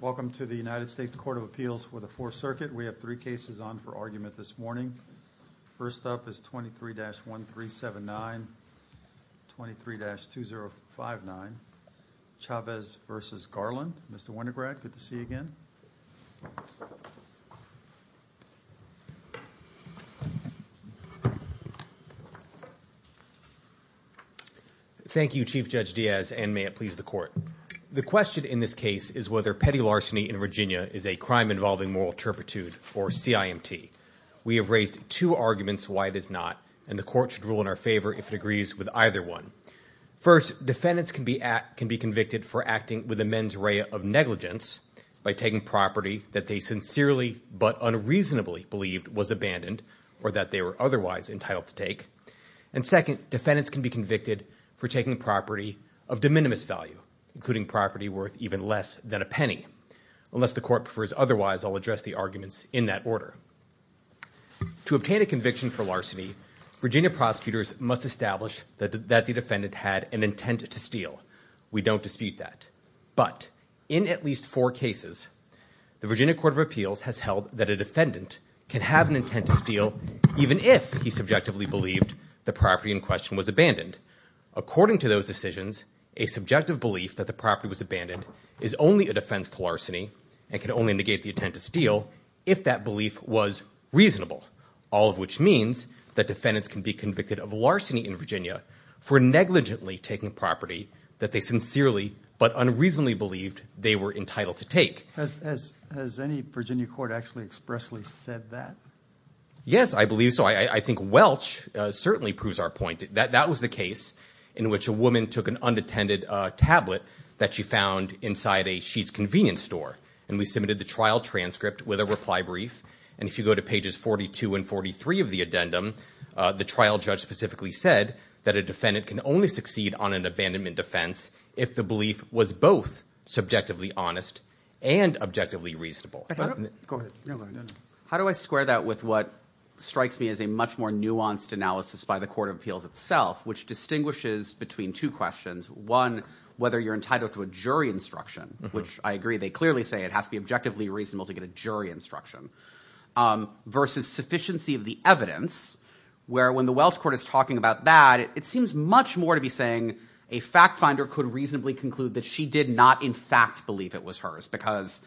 Welcome to the United States Court of Appeals for the Fourth Circuit. We have three cases on for argument this morning. First up is 23-1379, 23-2059, Chavez v. Garland. Mr. Winograd, good to see you again. Thank you, Chief Judge Diaz, and may it please the court. The question in this case is whether petty larceny in Virginia is a crime involving moral turpitude or CIMT. We have raised two arguments why it is not, and the court should rule in our favor if it agrees with either one. First, defendants can be convicted for acting with a mens rea of negligence by taking property that they sincerely but unreasonably believed was abandoned or that they were otherwise entitled to take. And second, defendants can be convicted for taking property of de minimis value, including worth even less than a penny. Unless the court prefers otherwise, I'll address the arguments in that order. To obtain a conviction for larceny, Virginia prosecutors must establish that the defendant had an intent to steal. We don't dispute that. But in at least four cases, the Virginia Court of Appeals has held that a defendant can have an intent to steal even if he subjectively believed the property in question was abandoned. According to those decisions, a subjective belief that the property was abandoned is only a defense to larceny and can only negate the intent to steal if that belief was reasonable, all of which means that defendants can be convicted of larceny in Virginia for negligently taking property that they sincerely but unreasonably believed they were entitled to take. Has any Virginia court actually expressly said that? Yes, I believe so. I think Welch certainly proves our point that that was the in which a woman took an unattended tablet that she found inside a convenience store. And we submitted the trial transcript with a reply brief. And if you go to pages 42 and 43 of the addendum, the trial judge specifically said that a defendant can only succeed on an abandonment defense if the belief was both subjectively honest and objectively reasonable. How do I square that with what strikes me as a much more nuanced analysis by the Court of between two questions? One, whether you're entitled to a jury instruction, which I agree, they clearly say it has to be objectively reasonable to get a jury instruction versus sufficiency of the evidence where when the Welch Court is talking about that, it seems much more to be saying a fact finder could reasonably conclude that she did not in fact believe it was hers because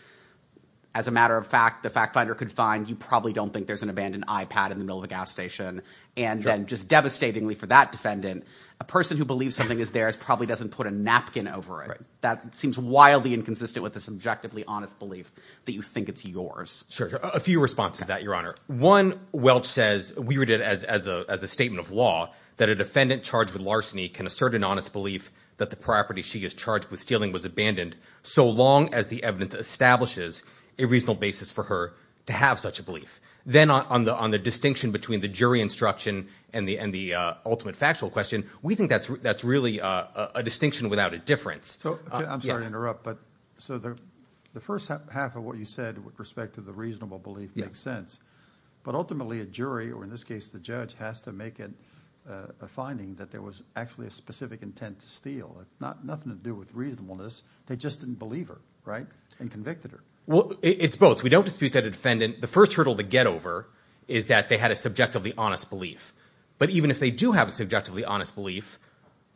as a matter of fact, the fact finder could find you probably don't think there's an abandoned iPad in the middle of a gas station. And then just devastatingly for that defendant, a person who believes something is theirs probably doesn't put a napkin over it. That seems wildly inconsistent with this objectively honest belief that you think it's yours. Sure. A few responses to that, Your Honor. One, Welch says, we read it as a statement of law that a defendant charged with larceny can assert an honest belief that the property she is charged with stealing was abandoned so long as the evidence establishes a reasonable basis for her to have such a belief. Then on the distinction between the jury instruction and the ultimate factual question, we think that's really a distinction without a difference. I'm sorry to interrupt, but so the first half of what you said with respect to the reasonable belief makes sense, but ultimately a jury or in this case, the judge has to make it a finding that there was actually a specific intent to steal. It's nothing to do with reasonableness. They just didn't believe her, right? And convicted her. Well, it's both. We don't dispute that a defendant, the first hurdle to get over is that they had a subjectively honest belief. But even if they do have a subjectively honest belief,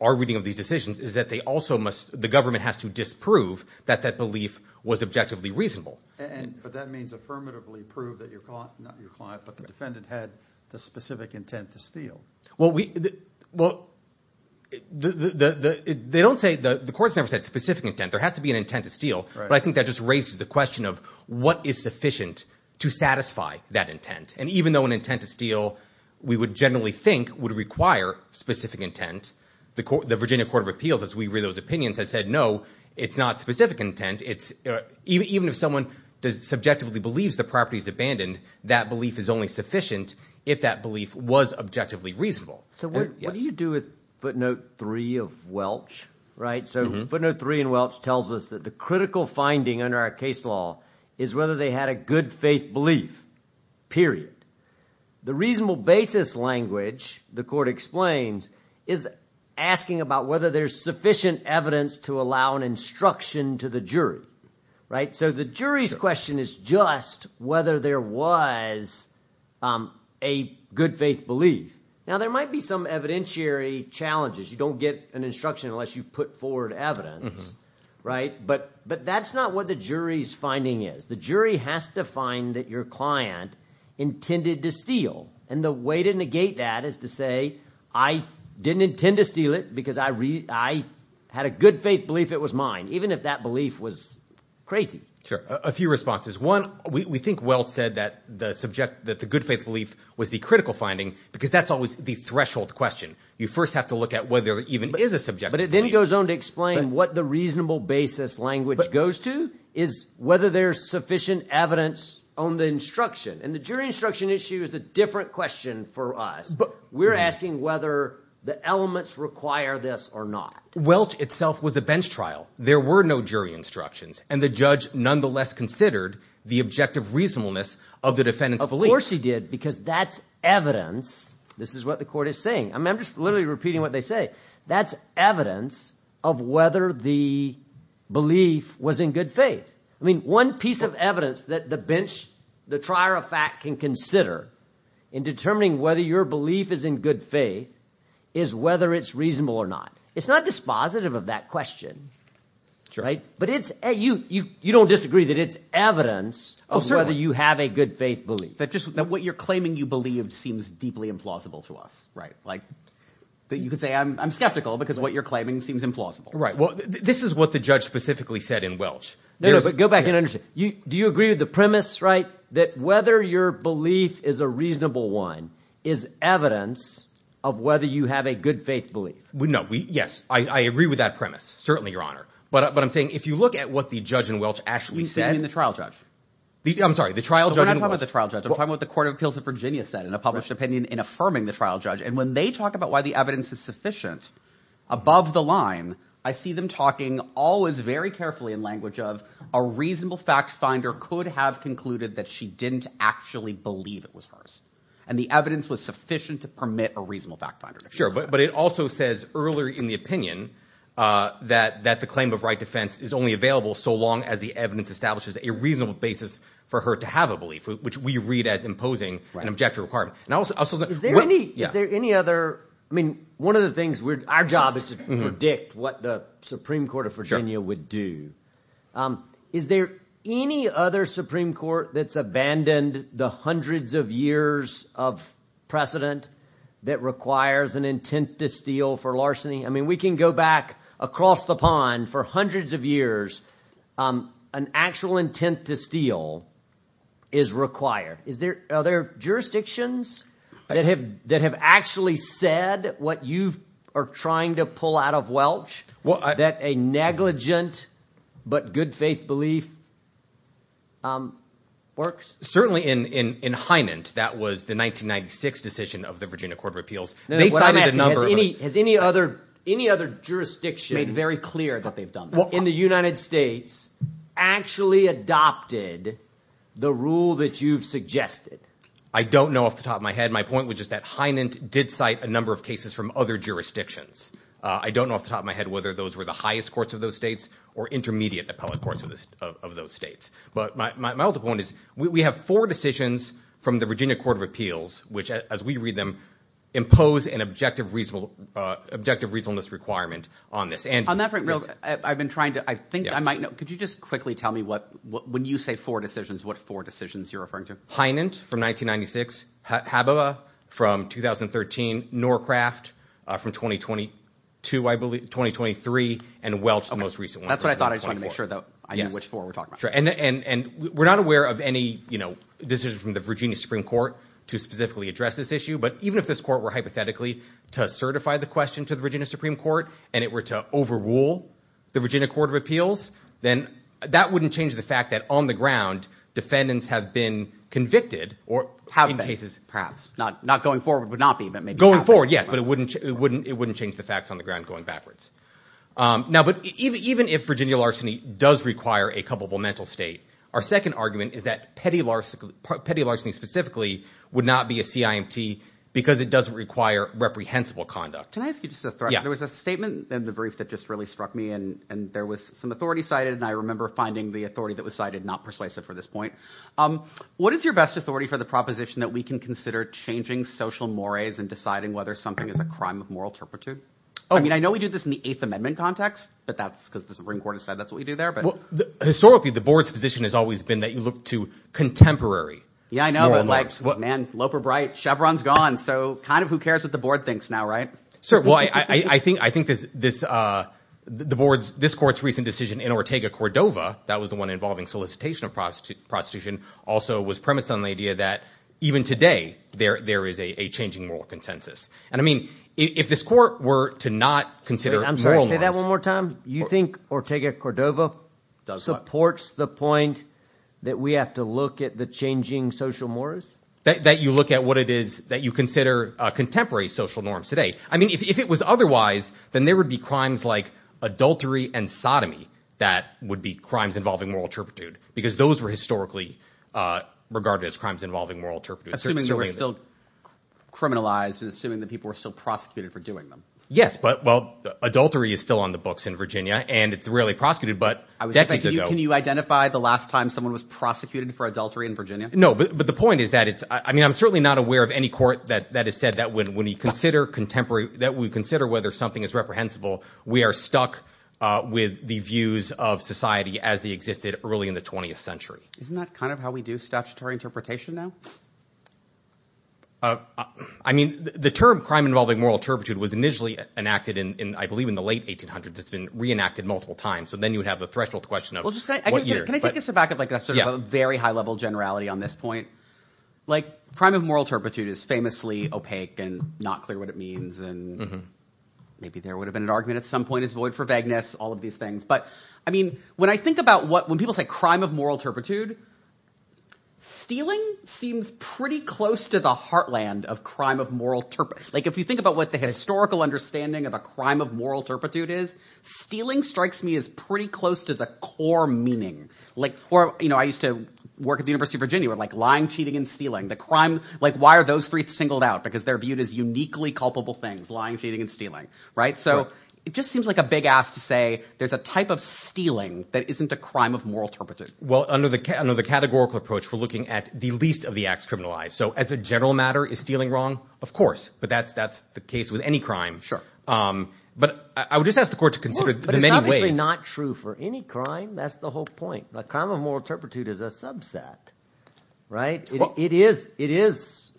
our reading of these decisions is that they also must, the government has to disprove that that belief was objectively reasonable. And, but that means affirmatively prove that you're caught, not your client, but the defendant had the specific intent to steal. Well, they don't say, the court's never said specific intent. There has to be an intent to steal. But I think that just raises the question of what is sufficient to satisfy that intent. And even though an intent to steal, we would generally think would require specific intent. The court, the Virginia Court of Appeals, as we read those opinions has said, no, it's not specific intent. It's even if someone does subjectively believes the property is abandoned, that belief is only sufficient if that belief was objectively reasonable. So what do you do with footnote three of Welch, right? So footnote three in Welch tells us that the critical finding under our case law is whether they had a good faith belief, period. The reasonable basis language the court explains is asking about whether there's sufficient evidence to allow an instruction to the jury, right? So the jury's question is just whether there was a good faith belief. Now there might be some evidentiary challenges. You don't get an instruction unless you put forward evidence, right? But, but that's not what the jury's finding is. The jury has to find that your client intended to steal. And the way to negate that is to say, I didn't intend to steal it because I had a good faith belief it was mine, even if that belief was crazy. Sure. A few responses. One, we think Welch said that the subject, that the good faith belief was the critical finding because that's always the threshold question. You first have to look at whether it even is a subject. But it then goes on to explain what the reasonable basis language goes to is whether there's sufficient evidence on the instruction and the jury instruction issue is a different question for us. But we're asking whether the elements require this or not. Welch itself was a bench trial. There were no jury instructions and the judge nonetheless considered the objective reasonableness of the defendant's belief. Of course he did because that's evidence. This is what the court is saying. I mean, I'm just literally repeating what they say. That's evidence of whether the belief was in good faith. I mean, one piece of evidence that the bench, the trier of fact can consider in determining whether your belief is in good faith is whether it's reasonable or not. It's not dispositive of that question. Sure. Right. But it's you, you, you don't disagree that it's evidence of whether you have a good faith belief. That just what you're claiming you believed seems deeply implausible to us. Right. Like that you could say, I'm, I'm skeptical because what you're claiming seems implausible. Right. Well, this is what the judge specifically said in Welch. No, no, but go back and understand. Do you agree with the premise, right? That whether your belief is a reasonable one is evidence of whether you have a good faith belief? No, we, yes, I agree with that premise. Certainly your honor. But, but I'm saying, if you look at what the judge in Welch actually said in the trial judge, I'm sorry, the trial judge, the trial judge, I'm talking about the court of appeals of Virginia said in a published opinion in affirming the trial judge. And when they talk about why the evidence is sufficient above the line, I see them talking always very carefully in language of a reasonable fact finder could have concluded that she didn't actually believe it was hers. And the evidence was sufficient to permit a reasonable fact finder. Sure. But, but it also says earlier in the opinion that, that the claim of right defense is only available so long as the evidence establishes a reasonable basis for her to have a belief, which we read as imposing an objective requirement. Is there any other, I mean, one of the things we're, our job is to predict what the Supreme Court of Virginia would do. Is there any other Supreme Court that's abandoned the hundreds of years of precedent that requires an intent to steal for larceny? I mean, we can go back across the pond for hundreds of years. An actual intent to steal is required. Is there, are there jurisdictions that have, that have actually said what you are trying to pull out of Welch that a negligent, but good faith belief works? Certainly in, in, in Hynand, that was the 1996 decision of the Virginia court of appeals. Has any, has any other, any other jurisdiction made very clear that they've done that in the United States actually adopted the rule that you've suggested? I don't know off the top of my head. My point was just that Hynand did cite a number of cases from other jurisdictions. I don't know off the top of my head, whether those were the highest courts of those states or intermediate appellate courts of this, of those states. But my, my, my ultimate point is we have four decisions from the Virginia court of appeals, which as we read them, impose an objective, reasonable, objective reasonableness requirement on this. And I've been trying to, I think I might know, could you just quickly tell me what, when you say four decisions, what four decisions you're referring to? Hynand from 1996, Haboba from 2013, Norcraft from 2022, I believe 2023 and Welch the most recent one. That's what I thought. I just want to make sure that I knew which four we're talking about. Sure. And, and, and we're not aware of any, you know, decisions from the Virginia Supreme Court to specifically address this issue. But even if this court were hypothetically to certify the question to the Virginia Supreme Court, and it were to overrule the Virginia court of appeals, then that wouldn't change the fact that on the ground defendants have been convicted or have cases. Perhaps not, not going forward would not be, but maybe. Going forward. Yes. But it wouldn't, it wouldn't, it wouldn't change the facts on the ground going backwards. Now, but even, even if Virginia larceny does require a culpable mental state, our second argument is that petty larceny, petty larceny specifically would not be a CIMT because it doesn't require reprehensible conduct. Can I ask you just a threat? There was a statement in the brief that just really struck me and, and there was some authority cited. And I remember finding the authority that was cited, not persuasive for this point. What is your best authority for the proposition that we can consider changing social mores and deciding whether something is a crime of moral turpitude? I mean, I know we do this in the eighth amendment context, but that's because the Supreme Court has always been that you look to contemporary. Yeah, I know. But like man, Loper bright Chevron's gone. So kind of who cares what the board thinks now, right? Sure. Well, I, I, I think, I think this, this, uh, the boards, this court's recent decision in Ortega Cordova, that was the one involving solicitation of prostitute prostitution also was premised on the idea that even today there, there is a changing moral consensus. And I mean, if this court were to not consider, I'm sorry, say that one more time. You think Ortega Cordova supports the point that we have to look at the changing social mores? That you look at what it is that you consider a contemporary social norms today. I mean, if it was otherwise, then there would be crimes like adultery and sodomy, that would be crimes involving moral turpitude because those were historically, uh, regarded as crimes involving moral turpitude. Assuming they were still criminalized and assuming that people were still prosecuted for doing them. Yes, but well, adultery is still on the books in Virginia and it's really prosecuted, but I was like, can you identify the last time someone was prosecuted for adultery in Virginia? No, but the point is that it's, I mean, I'm certainly not aware of any court that, that has said that when, when you consider contemporary that we consider whether something is reprehensible, we are stuck, uh, with the views of society as they existed early in the 20th century. Isn't that kind of how we do statutory interpretation now? Uh, I mean the term crime involving moral turpitude was initially enacted in, in, I believe in the late 1800s, it's been reenacted multiple times. So then you would have the threshold question of what year. Can I take a step back at like a very high level generality on this point, like crime of moral turpitude is famously opaque and not clear what it means. And maybe there would have been an argument at some point is void for vagueness, all of these things. But I mean, when I think about what, when people say crime of moral turpitude, stealing seems pretty close to the heartland of crime of moral turpitude. Like if you think about what the historical understanding of a crime of moral turpitude is, stealing strikes me as pretty close to the core meaning. Like, or, you know, I used to work at the university of Virginia where like lying, cheating, and stealing the crime. Like why are those three singled out? Because they're viewed as uniquely culpable things, lying, cheating, and stealing. Right. So it just seems like a big ass to say there's a type of stealing that isn't a crime of moral turpitude. Well, under the, under the categorical approach, we're looking at the least of the acts criminalized. So as a general matter, is stealing wrong? Of course, but that's, that's the case with any crime. Sure. But I would just ask the court to consider the many ways. It's obviously not true for any crime. That's the whole point. The crime of moral turpitude is a subset, right? It is, it is,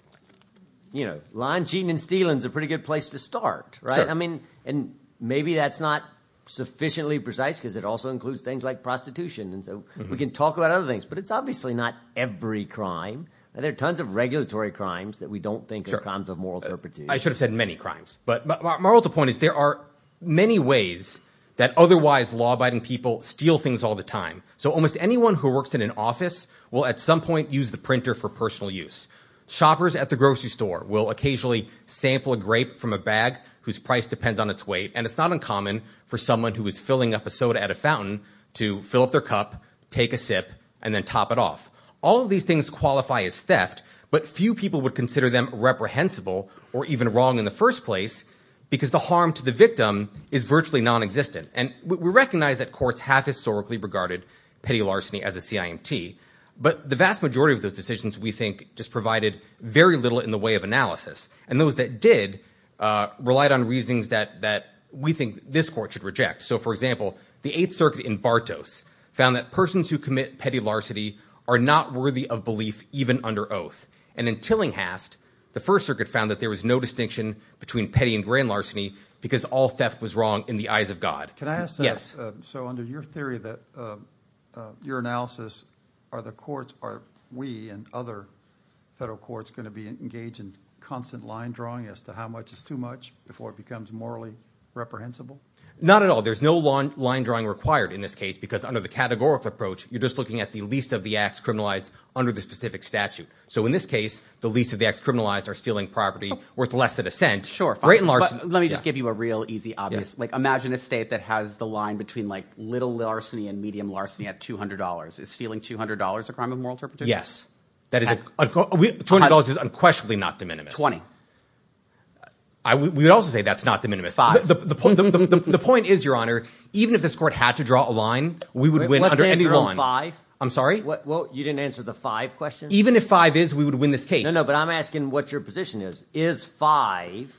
you know, lying, cheating, and stealing is a pretty good place to start, right? I mean, and maybe that's not sufficiently precise because it also includes things like prostitution. And so we can talk about other things, but it's obviously not every crime. There are tons of regulatory crimes that we don't think are crimes of moral turpitude. I should have said many crimes, but moral to the point is there are many ways that otherwise law-abiding people steal things all the time. So almost anyone who works in an office will at some point use the printer for personal use. Shoppers at the grocery store will occasionally sample a grape from a bag whose price depends on its weight. And it's not uncommon for someone who is filling up a soda at a fountain to fill up their cup, take a sip, and then top it off. All of these things qualify as theft, but few people would consider them reprehensible or even wrong in the first place because the harm to the victim is virtually non-existent. And we recognize that courts have historically regarded petty larceny as a CIMT, but the vast majority of those decisions, we think, just provided very little in the way of analysis. And those that did relied on reasonings that we think this court should reject. So for example, the Eighth Circuit in Bartos found that persons who commit petty larceny are not worthy of belief even under oath. And in Tillinghast, the First Circuit found that there was no distinction between petty and grand larceny because all theft was wrong in the eyes of God. Can I ask that? Yes. So under your theory that your analysis, are the courts, are we and other federal courts going to be engaged in constant line drawing as to how much is too much before it becomes morally reprehensible? Not at all. There's no line drawing required in this case because under the categorical approach, you're just looking at the least of the acts criminalized under the specific statute. So in this case, the least of the acts criminalized are stealing property worth less than a cent. Sure. But let me just give you a real easy, obvious, like imagine a state that has the line between like little larceny and medium larceny at $200. Is stealing $200 a crime of moral interpretation? Yes. $200 is unquestionably not de minimis. 20. We would also say that's not de minimis. Five. The point is, Your Honor, even if this court had to draw a line, we would win under any law. What's the answer on five? I'm sorry? You didn't answer the five question? Even if five is, we would win this case. No, no, but I'm asking what your position is. Is five...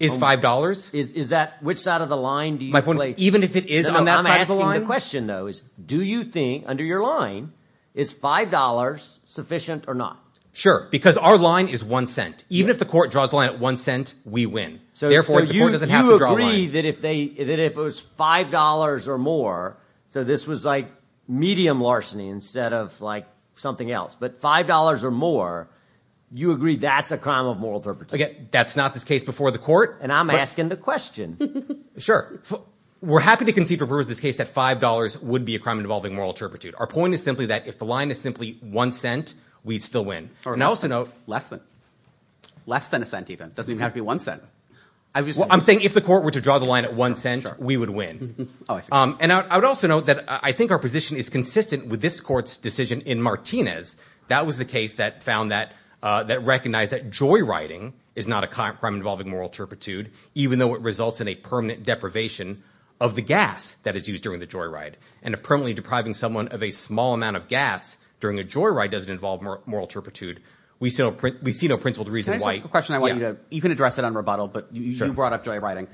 Is $5? Is that, which side of the line do you place? My point is, even if it is on that side of the line... No, no, I'm asking the question though is, do you think under your line, is $5 sufficient or not? Sure. Because our line is one cent. Even if the court draws a line at one cent, we win. So therefore, the court doesn't have to draw a line. So you agree that if they, that if it was $5 or more, so this was like medium larceny instead of like something else, but $5 or more, you agree that's a crime of moral turpitude. Again, that's not this case before the court. And I'm asking the question. Sure. We're happy to concede for Brewer's this case that $5 would be a crime involving moral turpitude. Our point is simply that if the line is simply one cent, we still win. And I also know... Less than, less than a cent even. It doesn't even have to be one cent. I'm just saying... Well, I'm saying if the court were to draw the line at one cent, we would win. And I would also note that I think our position is consistent with this court's decision in Martinez. That was the case that found that, uh, that recognized that joyriding is not a crime involving moral turpitude, even though it results in a permanent deprivation of the gas that is used during the joyride. And if permanently depriving someone of a small amount of gas during a joyride doesn't involve moral turpitude, we still, we see no principle to reason why... Can I just ask a question? I want you to, you can address it on rebuttal, but you brought up joyriding.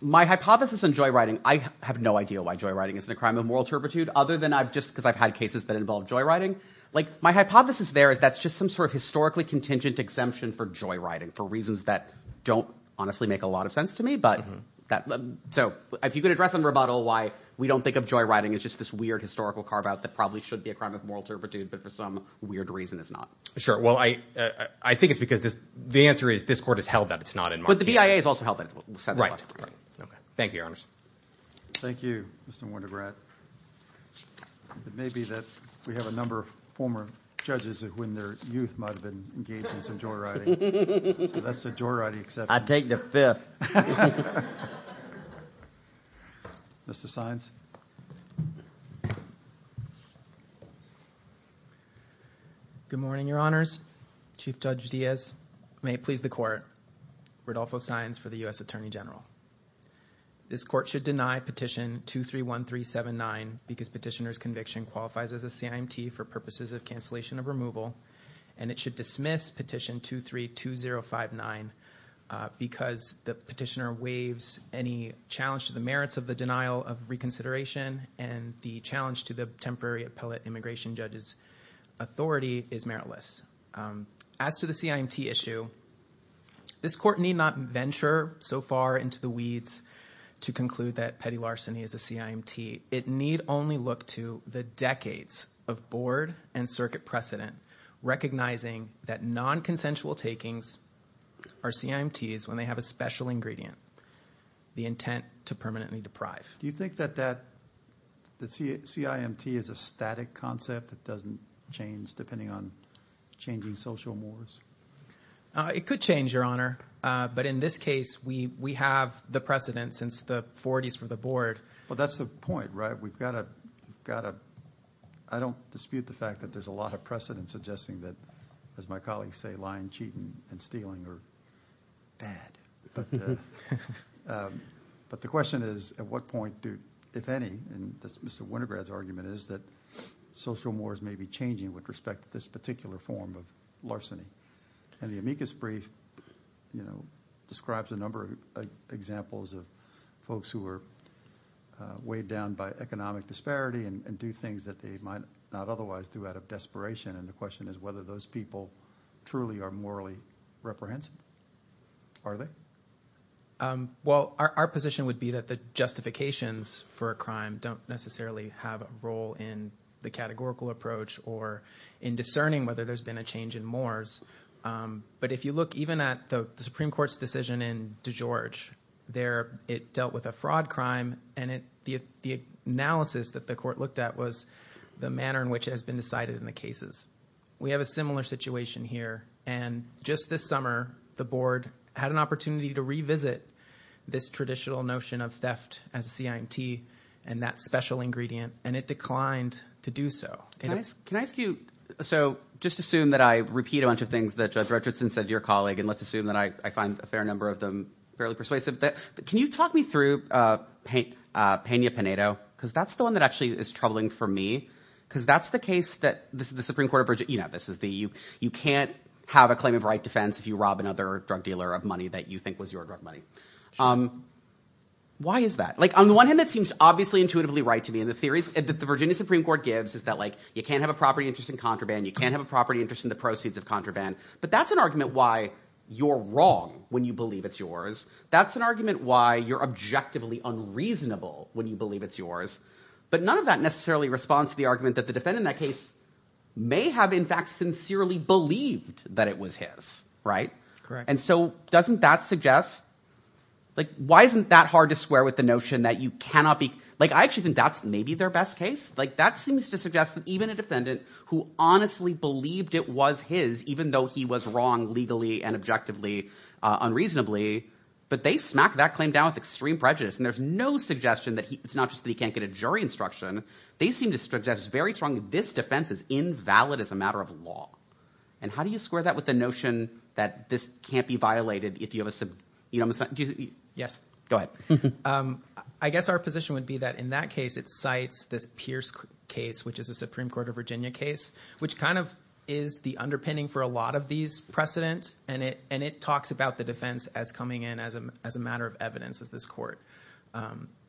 My hypothesis on joyriding, I have no idea why joyriding isn't a crime of moral turpitude other than I've just, because I've had cases that involve joyriding. Like my hypothesis there is that's just some sort of historically contingent exemption for joyriding for reasons that don't honestly make a lot of sense to me. But that, so if you could address on rebuttal why we don't think of joyriding as just this weird historical carve out that probably should be a crime of moral turpitude, but for some weird reason is not. Sure. Well, I, I think it's because this, the answer is this court has held that it's not in... But the BIA has held that it's not in the context of the case of the crime of joyriding. It may be that we have a number of former judges when their youth might have been engaged in some joyriding. So that's the joyriding exception. I take the fifth. Mr. Saenz. Good morning, your honors. Chief Judge Diaz. May it please the court. Rudolpho Saenz for the U.S. because petitioner's conviction qualifies as a CIMT for purposes of cancellation of removal and it should dismiss petition 232059 because the petitioner waives any challenge to the merits of the denial of reconsideration and the challenge to the temporary appellate immigration judge's authority is meritless. As to the CIMT issue, this court need not venture so far into the weeds to conclude that petty larceny is a CIMT. It need only look to the decades of board and circuit precedent, recognizing that non-consensual takings are CIMTs when they have a special ingredient, the intent to permanently deprive. Do you think that that, that CIMT is a static concept that doesn't change depending on changing social mores? It could change, your honor. But in this case, we, we have the precedent since the forties for the board. But that's the point, right? We've got to, got to, I don't dispute the fact that there's a lot of precedent suggesting that, as my colleagues say, lying, cheating and stealing are bad. But, but the question is, at what point do, if any, and Mr. Wintergrad's argument is that social mores may be changing with respect to this particular form of larceny. And the amicus brief, you know, describes a number of examples of folks who are weighed down by economic disparity and do things that they might not otherwise do out of desperation. And the question is whether those people truly are morally reprehensive. Are they? Well, our position would be that the justifications for a crime don't necessarily have a role in the categorical approach or in discerning whether there's been a change in mores. But if you look even at the Supreme Court's decision in DeGeorge there, it dealt with a fraud crime and it, the analysis that the court looked at was the manner in which it has been decided in the cases. We have a similar situation here. And just this summer, the board had an and it declined to do so. Can I ask, can I ask you, so just assume that I repeat a bunch of things that Judge Richardson said to your colleague, and let's assume that I find a fair number of them fairly persuasive. Can you talk me through Peña Paneto? Because that's the one that actually is troubling for me. Because that's the case that this is the Supreme Court of Virginia. You know, this is the, you, you can't have a claim of right defense if you rob another drug dealer of money that you think was your drug money. Why is that? Like on the one hand, it seems obviously intuitively right to me. And the theories that the Virginia Supreme Court gives is that like, you can't have a property interest in contraband. You can't have a property interest in the proceeds of contraband. But that's an argument why you're wrong when you believe it's yours. That's an argument why you're objectively unreasonable when you believe it's yours. But none of that necessarily responds to the argument that the defendant in that case may have in fact sincerely believed that it was his, right? And so doesn't that suggest, like, why isn't that hard to square with the notion that you cannot be, like, I actually think that's maybe their best case. Like that seems to suggest that even a defendant who honestly believed it was his, even though he was wrong legally and objectively unreasonably, but they smack that claim down with extreme prejudice. And there's no suggestion that he, it's not just that he can't get a jury instruction. They seem to suggest very strongly this defense is invalid as a matter of law. And how do you square that with the notion that this can't be violated if you have a... Yes, go ahead. I guess our position would be that in that case, it cites this Pierce case, which is a Supreme Court of Virginia case, which kind of is the underpinning for a lot of these precedents. And it talks about the defense as coming in as a matter of evidence, as this court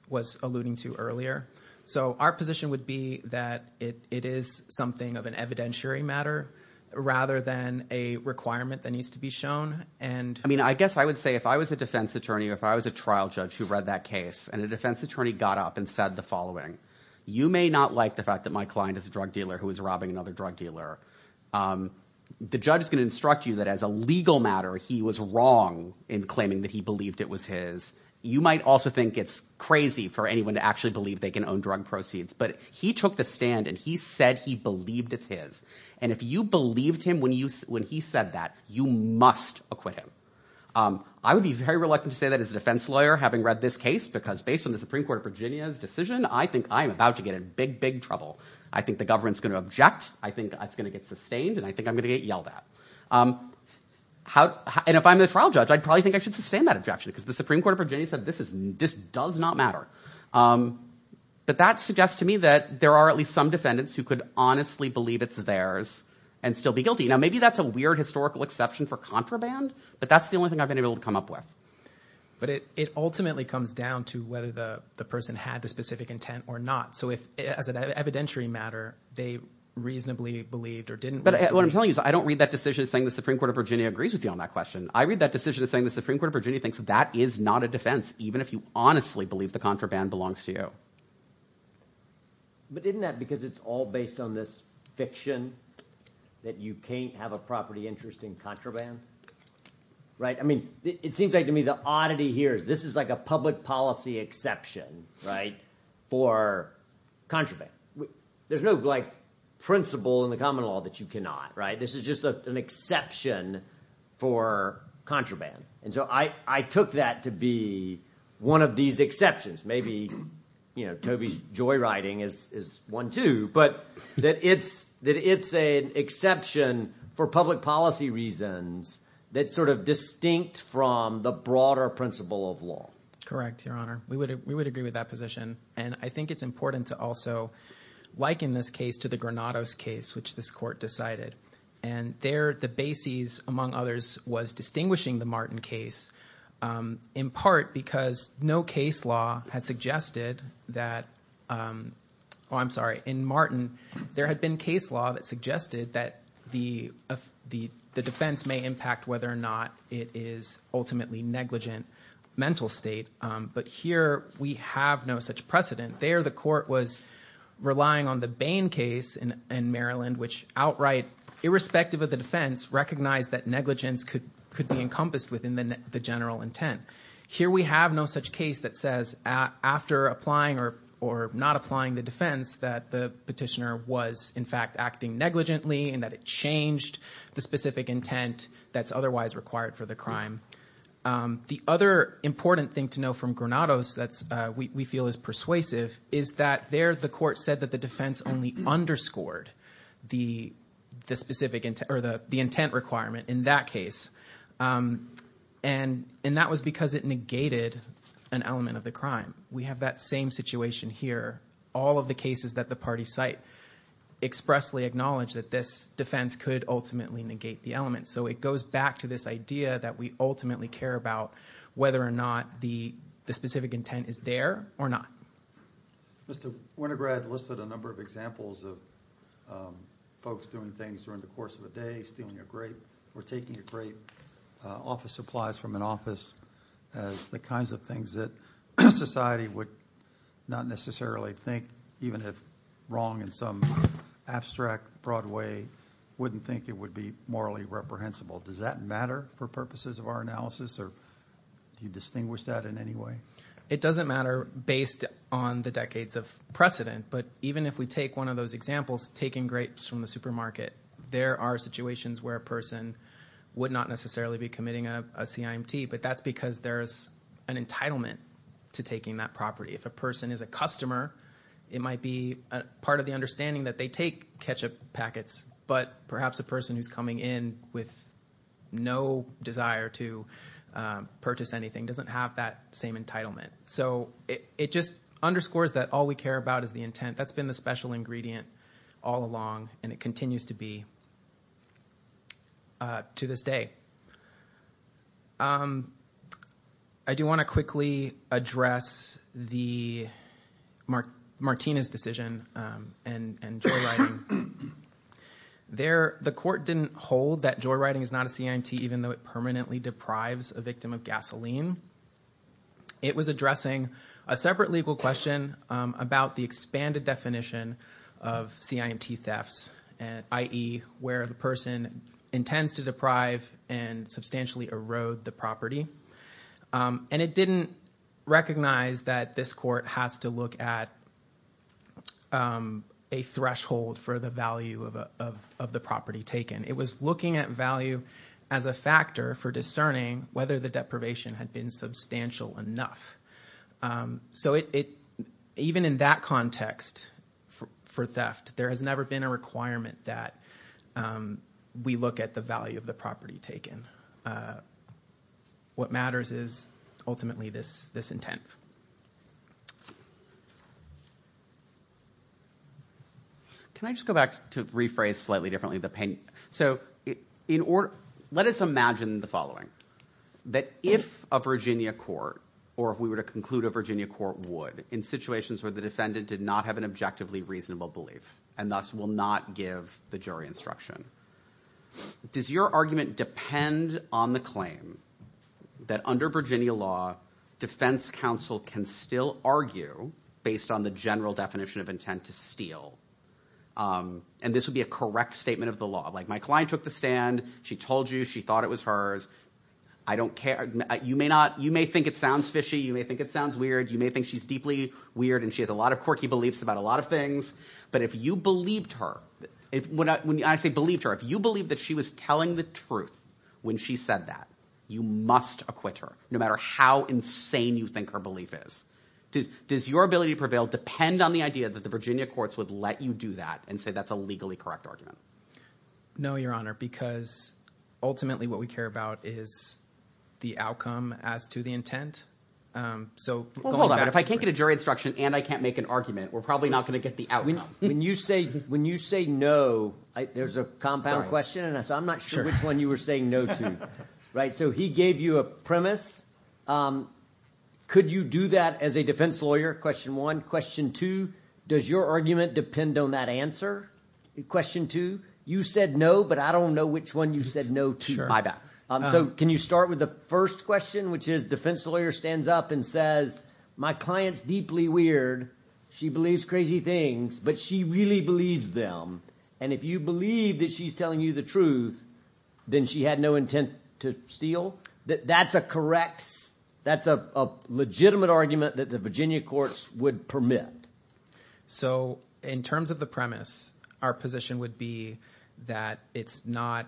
was alluding to earlier. So our position would be that it is something of an evidentiary matter rather than a requirement that needs to be shown. And... I mean, I guess I would say if I was a defense attorney, if I was a trial judge who read that case and a defense attorney got up and said the following, you may not like the fact that my client is a drug dealer who was robbing another drug dealer. The judge is going to instruct you that as a legal matter, he was wrong in claiming that he believed it was his. You might also think it's crazy for anyone to actually believe they can own drug proceeds, but he took the stand and he said he believed it's his. And if you believed him when he said that, you must acquit him. I would be very reluctant to say that as a defense lawyer, having read this case, because based on the Supreme Court of Virginia's decision, I think I'm about to get in big, big trouble. I think the government's going to object. I think that's going to get sustained. And I think I'm going to get yelled at. And if I'm the trial judge, I'd probably think I should sustain that objection because the Supreme Court of Virginia said this does not matter. But that suggests to me that there are at least some defendants who could honestly believe it's theirs and still be guilty. Now, maybe that's a weird historical exception for contraband, but that's the only thing I've been able to come up with. But it ultimately comes down to whether the person had the specific intent or not. So if as an evidentiary matter, they reasonably believed or didn't. But what I'm telling you is I don't read that decision saying the Supreme Court of Virginia agrees with you on that question. I read that decision saying the Supreme Court of Virginia that that is not a defense, even if you honestly believe the contraband belongs to you. But isn't that because it's all based on this fiction that you can't have a property interest in contraband? I mean, it seems like to me the oddity here is this is like a public policy exception for contraband. There's no principle in the common law that you cannot. This is just an exception for contraband. And so I took that to be one of these exceptions. Maybe, you know, Toby's joyriding is one too, but that it's an exception for public policy reasons that sort of distinct from the broader principle of law. Correct, Your Honor. We would agree with that position. And I think it's important to also liken this case to the Granados case, which this court decided. And there the bases, among others, was distinguishing the Martin case in part because no case law had suggested that, oh, I'm sorry, in Martin, there had been case law that suggested that the defense may impact whether or not it is ultimately negligent mental state. But here we have no such precedent. There, the court was relying on the Bain case in Maryland, which outright, irrespective of the defense, recognized that negligence could be encompassed within the general intent. Here we have no such case that says after applying or not applying the defense that the petitioner was, in fact, acting negligently and that it changed the specific intent that's otherwise required for the crime. The other important thing to know from Granados that we feel is persuasive is that there the court said that the defense only underscored the specific intent or the intent requirement in that case. And that was because it negated an element of the crime. We have that same situation here. All of the cases that the party cite expressly acknowledge that this defense could ultimately negate the element. So it goes back to this idea that we ultimately care about whether or not the specific intent is there or not. Mr. Winograd listed a number of examples of folks doing things during the course of a day, stealing a grape or taking a grape off of supplies from an office as the kinds of things that society would not necessarily think, even if wrong in some abstract, broad way, wouldn't think it would be morally reprehensible. Does that matter for purposes of our analysis? It doesn't matter based on the decades of precedent. But even if we take one of those examples, taking grapes from the supermarket, there are situations where a person would not necessarily be committing a CIMT, but that's because there's an entitlement to taking that property. If a person is a customer, it might be part of the understanding that they take ketchup packets, but perhaps a person who's coming in with no desire to purchase anything doesn't have that same entitlement. So it just underscores that all we care about is the intent. That's been the special ingredient all along, and it continues to be to this day. I do want to quickly address Martina's decision and joyriding. The court didn't hold that joyriding is not a CIMT, even though it permanently deprives a victim of gasoline. It was addressing a separate legal question about the expanded definition of CIMT thefts, i.e. where the person intends to deprive and substantially erode the property. And it didn't recognize that this court has to look at a threshold for the value of the property taken. It was looking at value as a factor for discerning whether the deprivation had been enough. So even in that context for theft, there has never been a requirement that we look at the value of the property taken. What matters is ultimately this intent. Can I just go back to rephrase slightly differently? So let us imagine the following. That if a Virginia court, or if we were to conclude a Virginia court would, in situations where the defendant did not have an objectively reasonable belief and thus will not give the jury instruction, does your argument depend on the claim that under Virginia law, defense counsel can still argue based on the general definition of intent to steal? And this would be a correct statement of the law. Like my client took the stand. She told you she thought it was hers. I don't care. You may not, you may think it sounds fishy. You may think it sounds weird. You may think she's deeply weird and she has a lot of quirky beliefs about a lot of things. But if you believed her, when I say believed her, if you believe that she was telling the truth when she said that, you must acquit her, no matter how insane you think her belief is. Does your ability to prevail depend on the idea that the Virginia courts would let you do that and say that's a legally correct argument? No, your honor, because ultimately what we care about is the outcome as to the intent. So hold on, if I can't get a jury instruction and I can't make an argument, we're probably not going to get the outcome. When you say, when you say no, there's a compound question and I'm not sure which one you were saying no to. Right. So he gave you a premise. Could you do that as a defense lawyer? Question one. Question two, does your argument depend on that answer? Question two, you said no, but I don't know which one you said no to. My bad. So can you start with the first question, which is defense lawyer stands up and says, my client's deeply weird. She believes crazy things, but she really believes them. And if you believe that she's telling you the truth, then she had no intent to steal. That's a correct, that's a legitimate argument that the Virginia courts would permit. So in terms of the premise, our position would be that it's not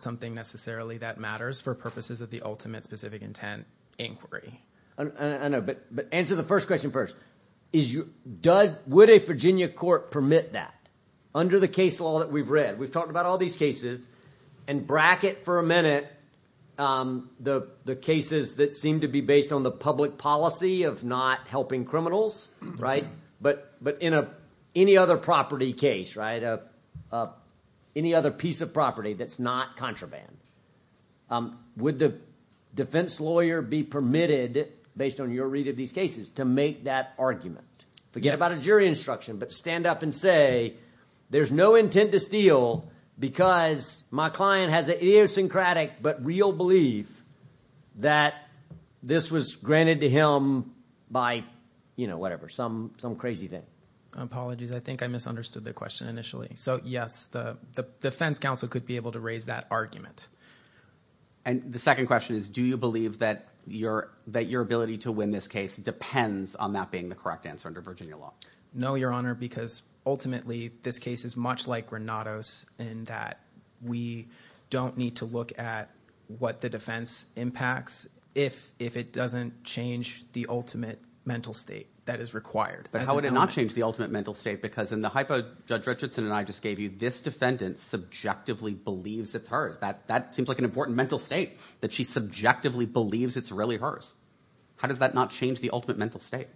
something necessarily that matters for purposes of the ultimate specific intent inquiry. I know, but answer the first question first. Would a Virginia court permit that? Under the case law that we've read, we've all these cases and bracket for a minute, um, the, the cases that seem to be based on the public policy of not helping criminals. Right. But, but in a, any other property case, right. Uh, uh, any other piece of property that's not contraband, um, would the defense lawyer be permitted based on your read of these cases to make that argument, forget about a jury instruction, but stand up and there's no intent to steal because my client has an idiosyncratic, but real belief that this was granted to him by, you know, whatever, some, some crazy thing. Apologies. I think I misunderstood the question initially. So yes, the defense counsel could be able to raise that argument. And the second question is, do you believe that your, that your ability to win this case depends on that being the correct answer under Virginia law? No, your honor, because ultimately this case is much like Granados in that we don't need to look at what the defense impacts if, if it doesn't change the ultimate mental state that is required. But how would it not change the ultimate mental state? Because in the hypo judge Richardson and I just gave you this defendant subjectively believes it's hers. That, that seems like an important mental state that she subjectively believes it's really hers. How does that not change the ultimate mental state?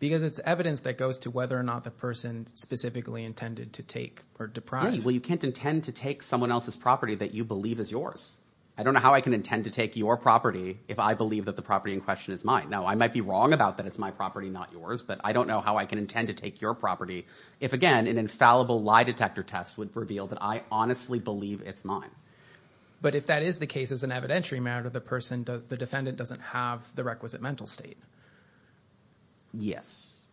Because it's evidence that goes to whether or not the person specifically intended to take or deprived. Well, you can't intend to take someone else's property that you believe is yours. I don't know how I can intend to take your property. If I believe that the property in question is mine. Now I might be wrong about that. It's my property, not yours, but I don't know how I can intend to take your property. If again, an infallible lie detector test would reveal that I honestly believe it's mine. But if that is the case as an evidentiary matter, the person, the defendant doesn't have the requisite mental state. Yes,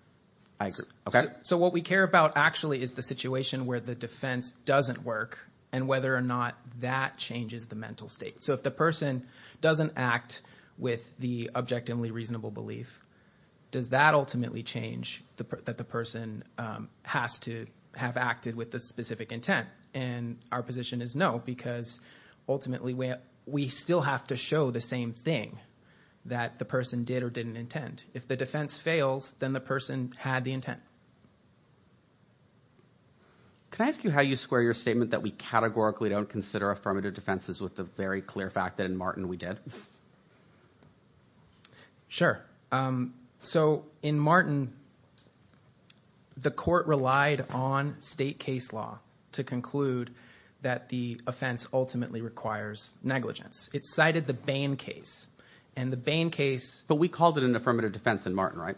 I agree. Okay. So what we care about actually is the situation where the defense doesn't work and whether or not that changes the mental state. So if the person doesn't act with the objectively reasonable belief, does that ultimately change the, that the person, um, has to have acted with the specific intent and our position is no, because ultimately we still have to show the same thing that the person did or didn't intend. If the defense fails, then the person had the intent. Can I ask you how you square your statement that we categorically don't consider affirmative defenses with the very clear fact that in Martin we did? Sure. Um, so in Martin, the court relied on state case law to conclude that the offense ultimately requires negligence. It cited the Bain case and the Bain case, but we called it an affirmative defense in Martin, right?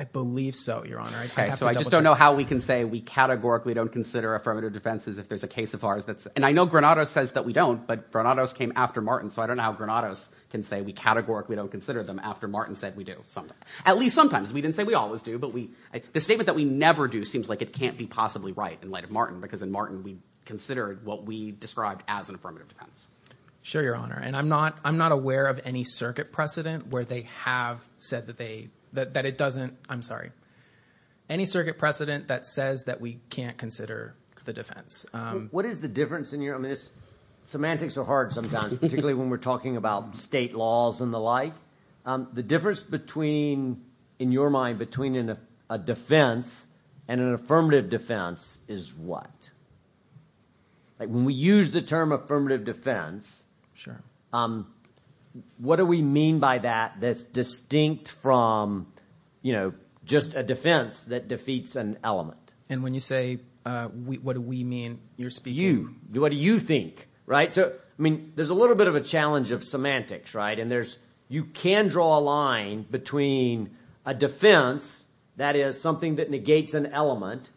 I believe so, your honor. Okay. So I just don't know how we can say we categorically don't consider affirmative defenses. If there's a case of ours that's, and I know Granado says that we don't, but Granados came after Martin. So I don't know how Granados can say we categorically don't consider them after Martin said we do sometimes, at least sometimes we didn't say we always do, but we, I, the statement that we never do seems like it can't be possibly right in light of Martin because in Martin we considered what we described as an affirmative defense. Sure, your honor. And I'm not, I'm not aware of any circuit precedent where they have said that they, that, that it doesn't, I'm sorry, any circuit precedent that says that we can't consider the defense. Um, what is the difference in your, I mean, this semantics are hard sometimes, particularly when we're talking about state laws and the like, um, the difference between, in your mind, between a defense and an affirmative defense is what? Like when we use the term affirmative defense. Sure. Um, what do we mean by that? That's distinct from, you know, just a defense that defeats an element. And when you say, uh, what do we mean you're speaking to? You, what do you think? Right? So, I mean, there's a little bit of a challenge of semantics, right? And there's, you can draw a line between a defense that is something that negates an element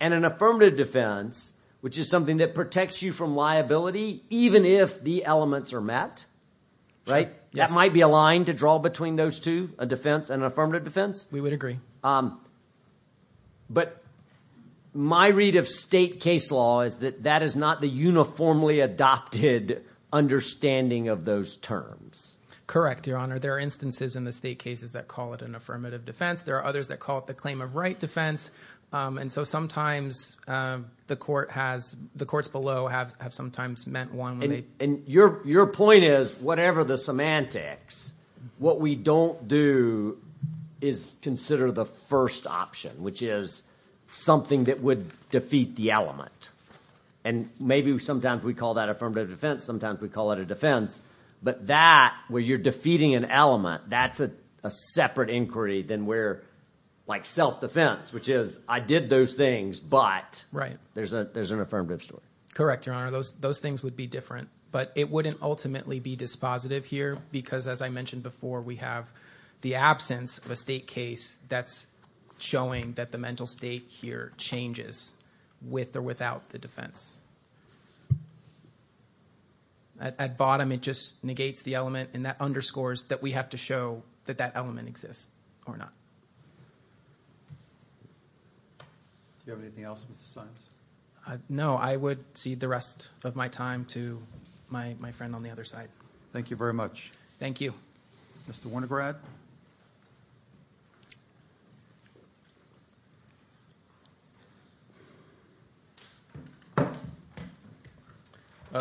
and an affirmative defense, which is something that protects you from liability, even if the elements are met, right? That might be a line to draw between those two, a defense and an affirmative defense. We would agree. Um, but my read of state case law is that is not the uniformly adopted understanding of those terms. Correct. Your Honor. There are instances in the state cases that call it an affirmative defense. There are others that call it the claim of right defense. Um, and so sometimes, um, the court has, the courts below have, have sometimes meant one. And your, your point is whatever the semantics, what we don't do is consider the first option, which is something that would defeat the element. And maybe sometimes we call that affirmative defense. Sometimes we call it a defense, but that where you're defeating an element, that's a, a separate inquiry than where like self-defense, which is I did those things, but there's a, there's an affirmative story. Correct. Your Honor. Those, those things would be different, but it wouldn't ultimately be dispositive here because as I mentioned before, we have the absence of a state case that's showing that the mental state here changes with or without the defense. At, at bottom, it just negates the element and that underscores that we have to show that that element exists or not. Do you have anything else, Mr. Saenz? Uh, no, I would cede the rest of my time to my, my friend on the other side. Thank you very much. Thank you. Mr. Wernigrad.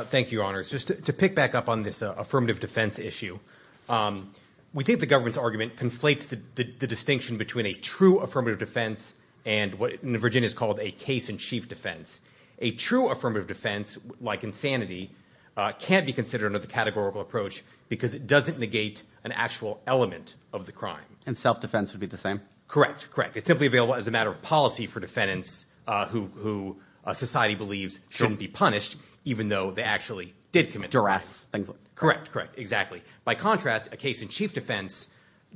Thank you, Your Honors. Just to pick back up on this affirmative defense issue, we think the government's argument conflates the, the distinction between a true affirmative defense and what in Virginia is called a case in chief defense. A true affirmative defense, like insanity, uh, can't be considered under the categorical approach because it doesn't negate an actual element of the crime. And self-defense would be the same. Correct. Correct. It's simply available as a matter of policy for defendants, uh, who, who, uh, society believes shouldn't be punished, even though they actually did commit duress. Correct. Correct. Exactly. By contrast, a case in chief defense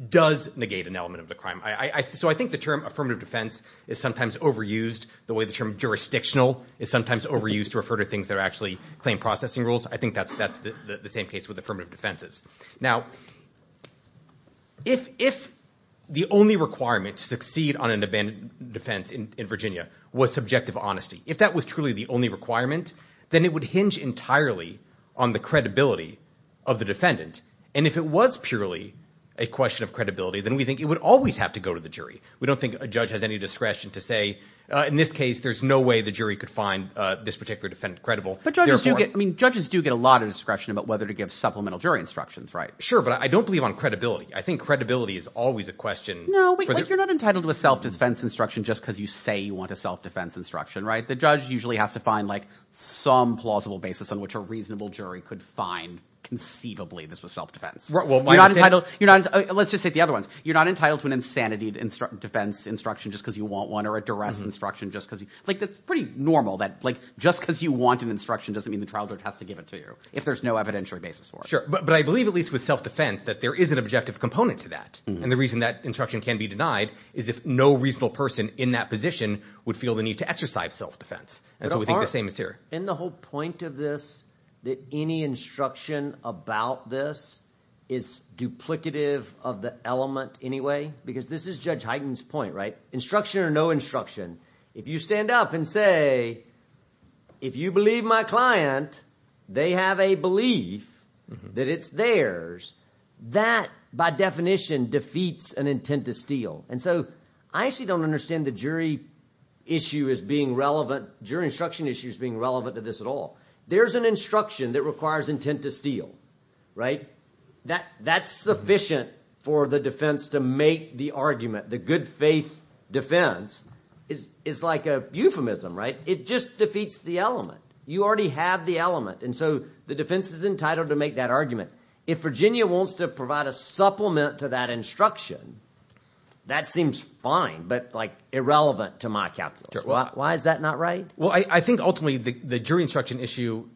does negate an element of the crime. I, I, so I think the term affirmative defense is sometimes overused the way the term jurisdictional is sometimes overused to refer to actually claim processing rules. I think that's, that's the same case with affirmative defenses. Now, if, if the only requirement to succeed on an abandoned defense in Virginia was subjective honesty, if that was truly the only requirement, then it would hinge entirely on the credibility of the defendant. And if it was purely a question of credibility, then we think it would always have to go to the jury. We don't think a judge has any discretion to say, uh, in this case, there's no way the jury could find, uh, this particular defendant credible. But judges do get, I mean, judges do get a lot of discretion about whether to give supplemental jury instructions, right? Sure. But I don't believe on credibility. I think credibility is always a question. No, you're not entitled to a self-defense instruction just because you say you want a self-defense instruction, right? The judge usually has to find like some plausible basis on which a reasonable jury could find conceivably this was self-defense. You're not entitled, you're not, let's just say the other ones, you're not entitled to an insanity defense instruction just because you want one or a duress instruction just because you like, that's pretty normal that like, just because you want an instruction doesn't mean the trial judge has to give it to you if there's no evidentiary basis for it. Sure. But, but I believe at least with self-defense that there is an objective component to that. And the reason that instruction can be denied is if no reasonable person in that position would feel the need to exercise self-defense. And so we think the same as here. And the whole point of this, that any instruction about this is duplicative of the element anyway, because this is Judge Hyten's point, right? Instruction or no instruction, if you stand up and say, if you believe my client, they have a belief that it's theirs, that by definition defeats an intent to steal. And so I actually don't understand the jury issue as being relevant, jury instruction issues being relevant to this at all. There's an instruction that requires intent to steal, right? That, that's sufficient for the defense to make the argument. The good faith defense is, is like a euphemism, right? It just defeats the element. You already have the element. And so the defense is entitled to make that argument. If Virginia wants to provide a supplement to that instruction, that seems fine, but like irrelevant to my calculus. Why is that not right? Well, I think ultimately the jury instruction issue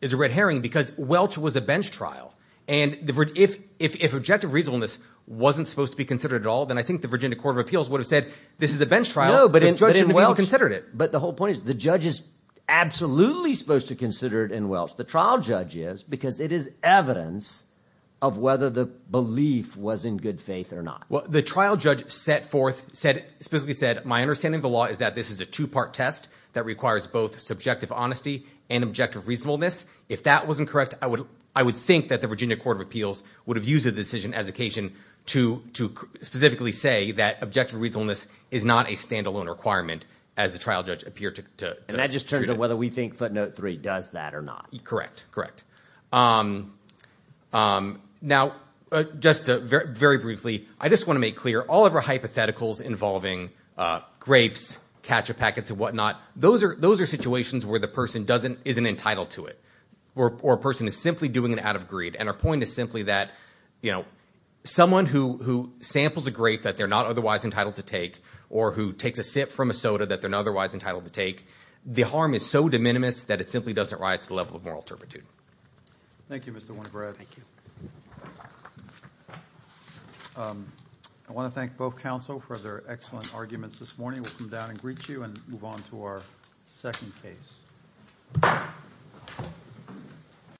is a red herring because Welch was a bench trial. And if, if, if objective reasonableness wasn't supposed to be considered at all, then I think the Virginia Court of Appeals would have said, this is a bench trial, but the judge didn't even consider it. But the whole point is the judge is absolutely supposed to consider it in Welch. The trial judge is because it is evidence of whether the belief was in good faith or not. Well, the trial judge set forth, said, specifically said, my understanding of the law is that this is a two-part test that requires both subjective honesty and objective reasonableness. If that wasn't correct, I would, I would think that the Virginia Court of Appeals would have used the decision as occasion to, to specifically say that objective reasonableness is not a standalone requirement as the trial judge appeared to. And that just turns out whether we think footnote three does that or not. Correct. Correct. Now, just very briefly, I just want to make clear all of our hypotheticals involving grapes, ketchup packets and whatnot, those are, those are situations where the person doesn't, isn't entitled to it. Or, or a person is simply doing it out of greed. And our point is simply that, you know, someone who, who samples a grape that they're not otherwise entitled to take, or who takes a sip from a soda that they're not otherwise entitled to take, the harm is so minimous that it simply doesn't rise to the level of moral turpitude. Thank you, Mr. Winograd. Thank you. I want to thank both counsel for their excellent arguments this morning. We'll come down and greet you and move on to our second case.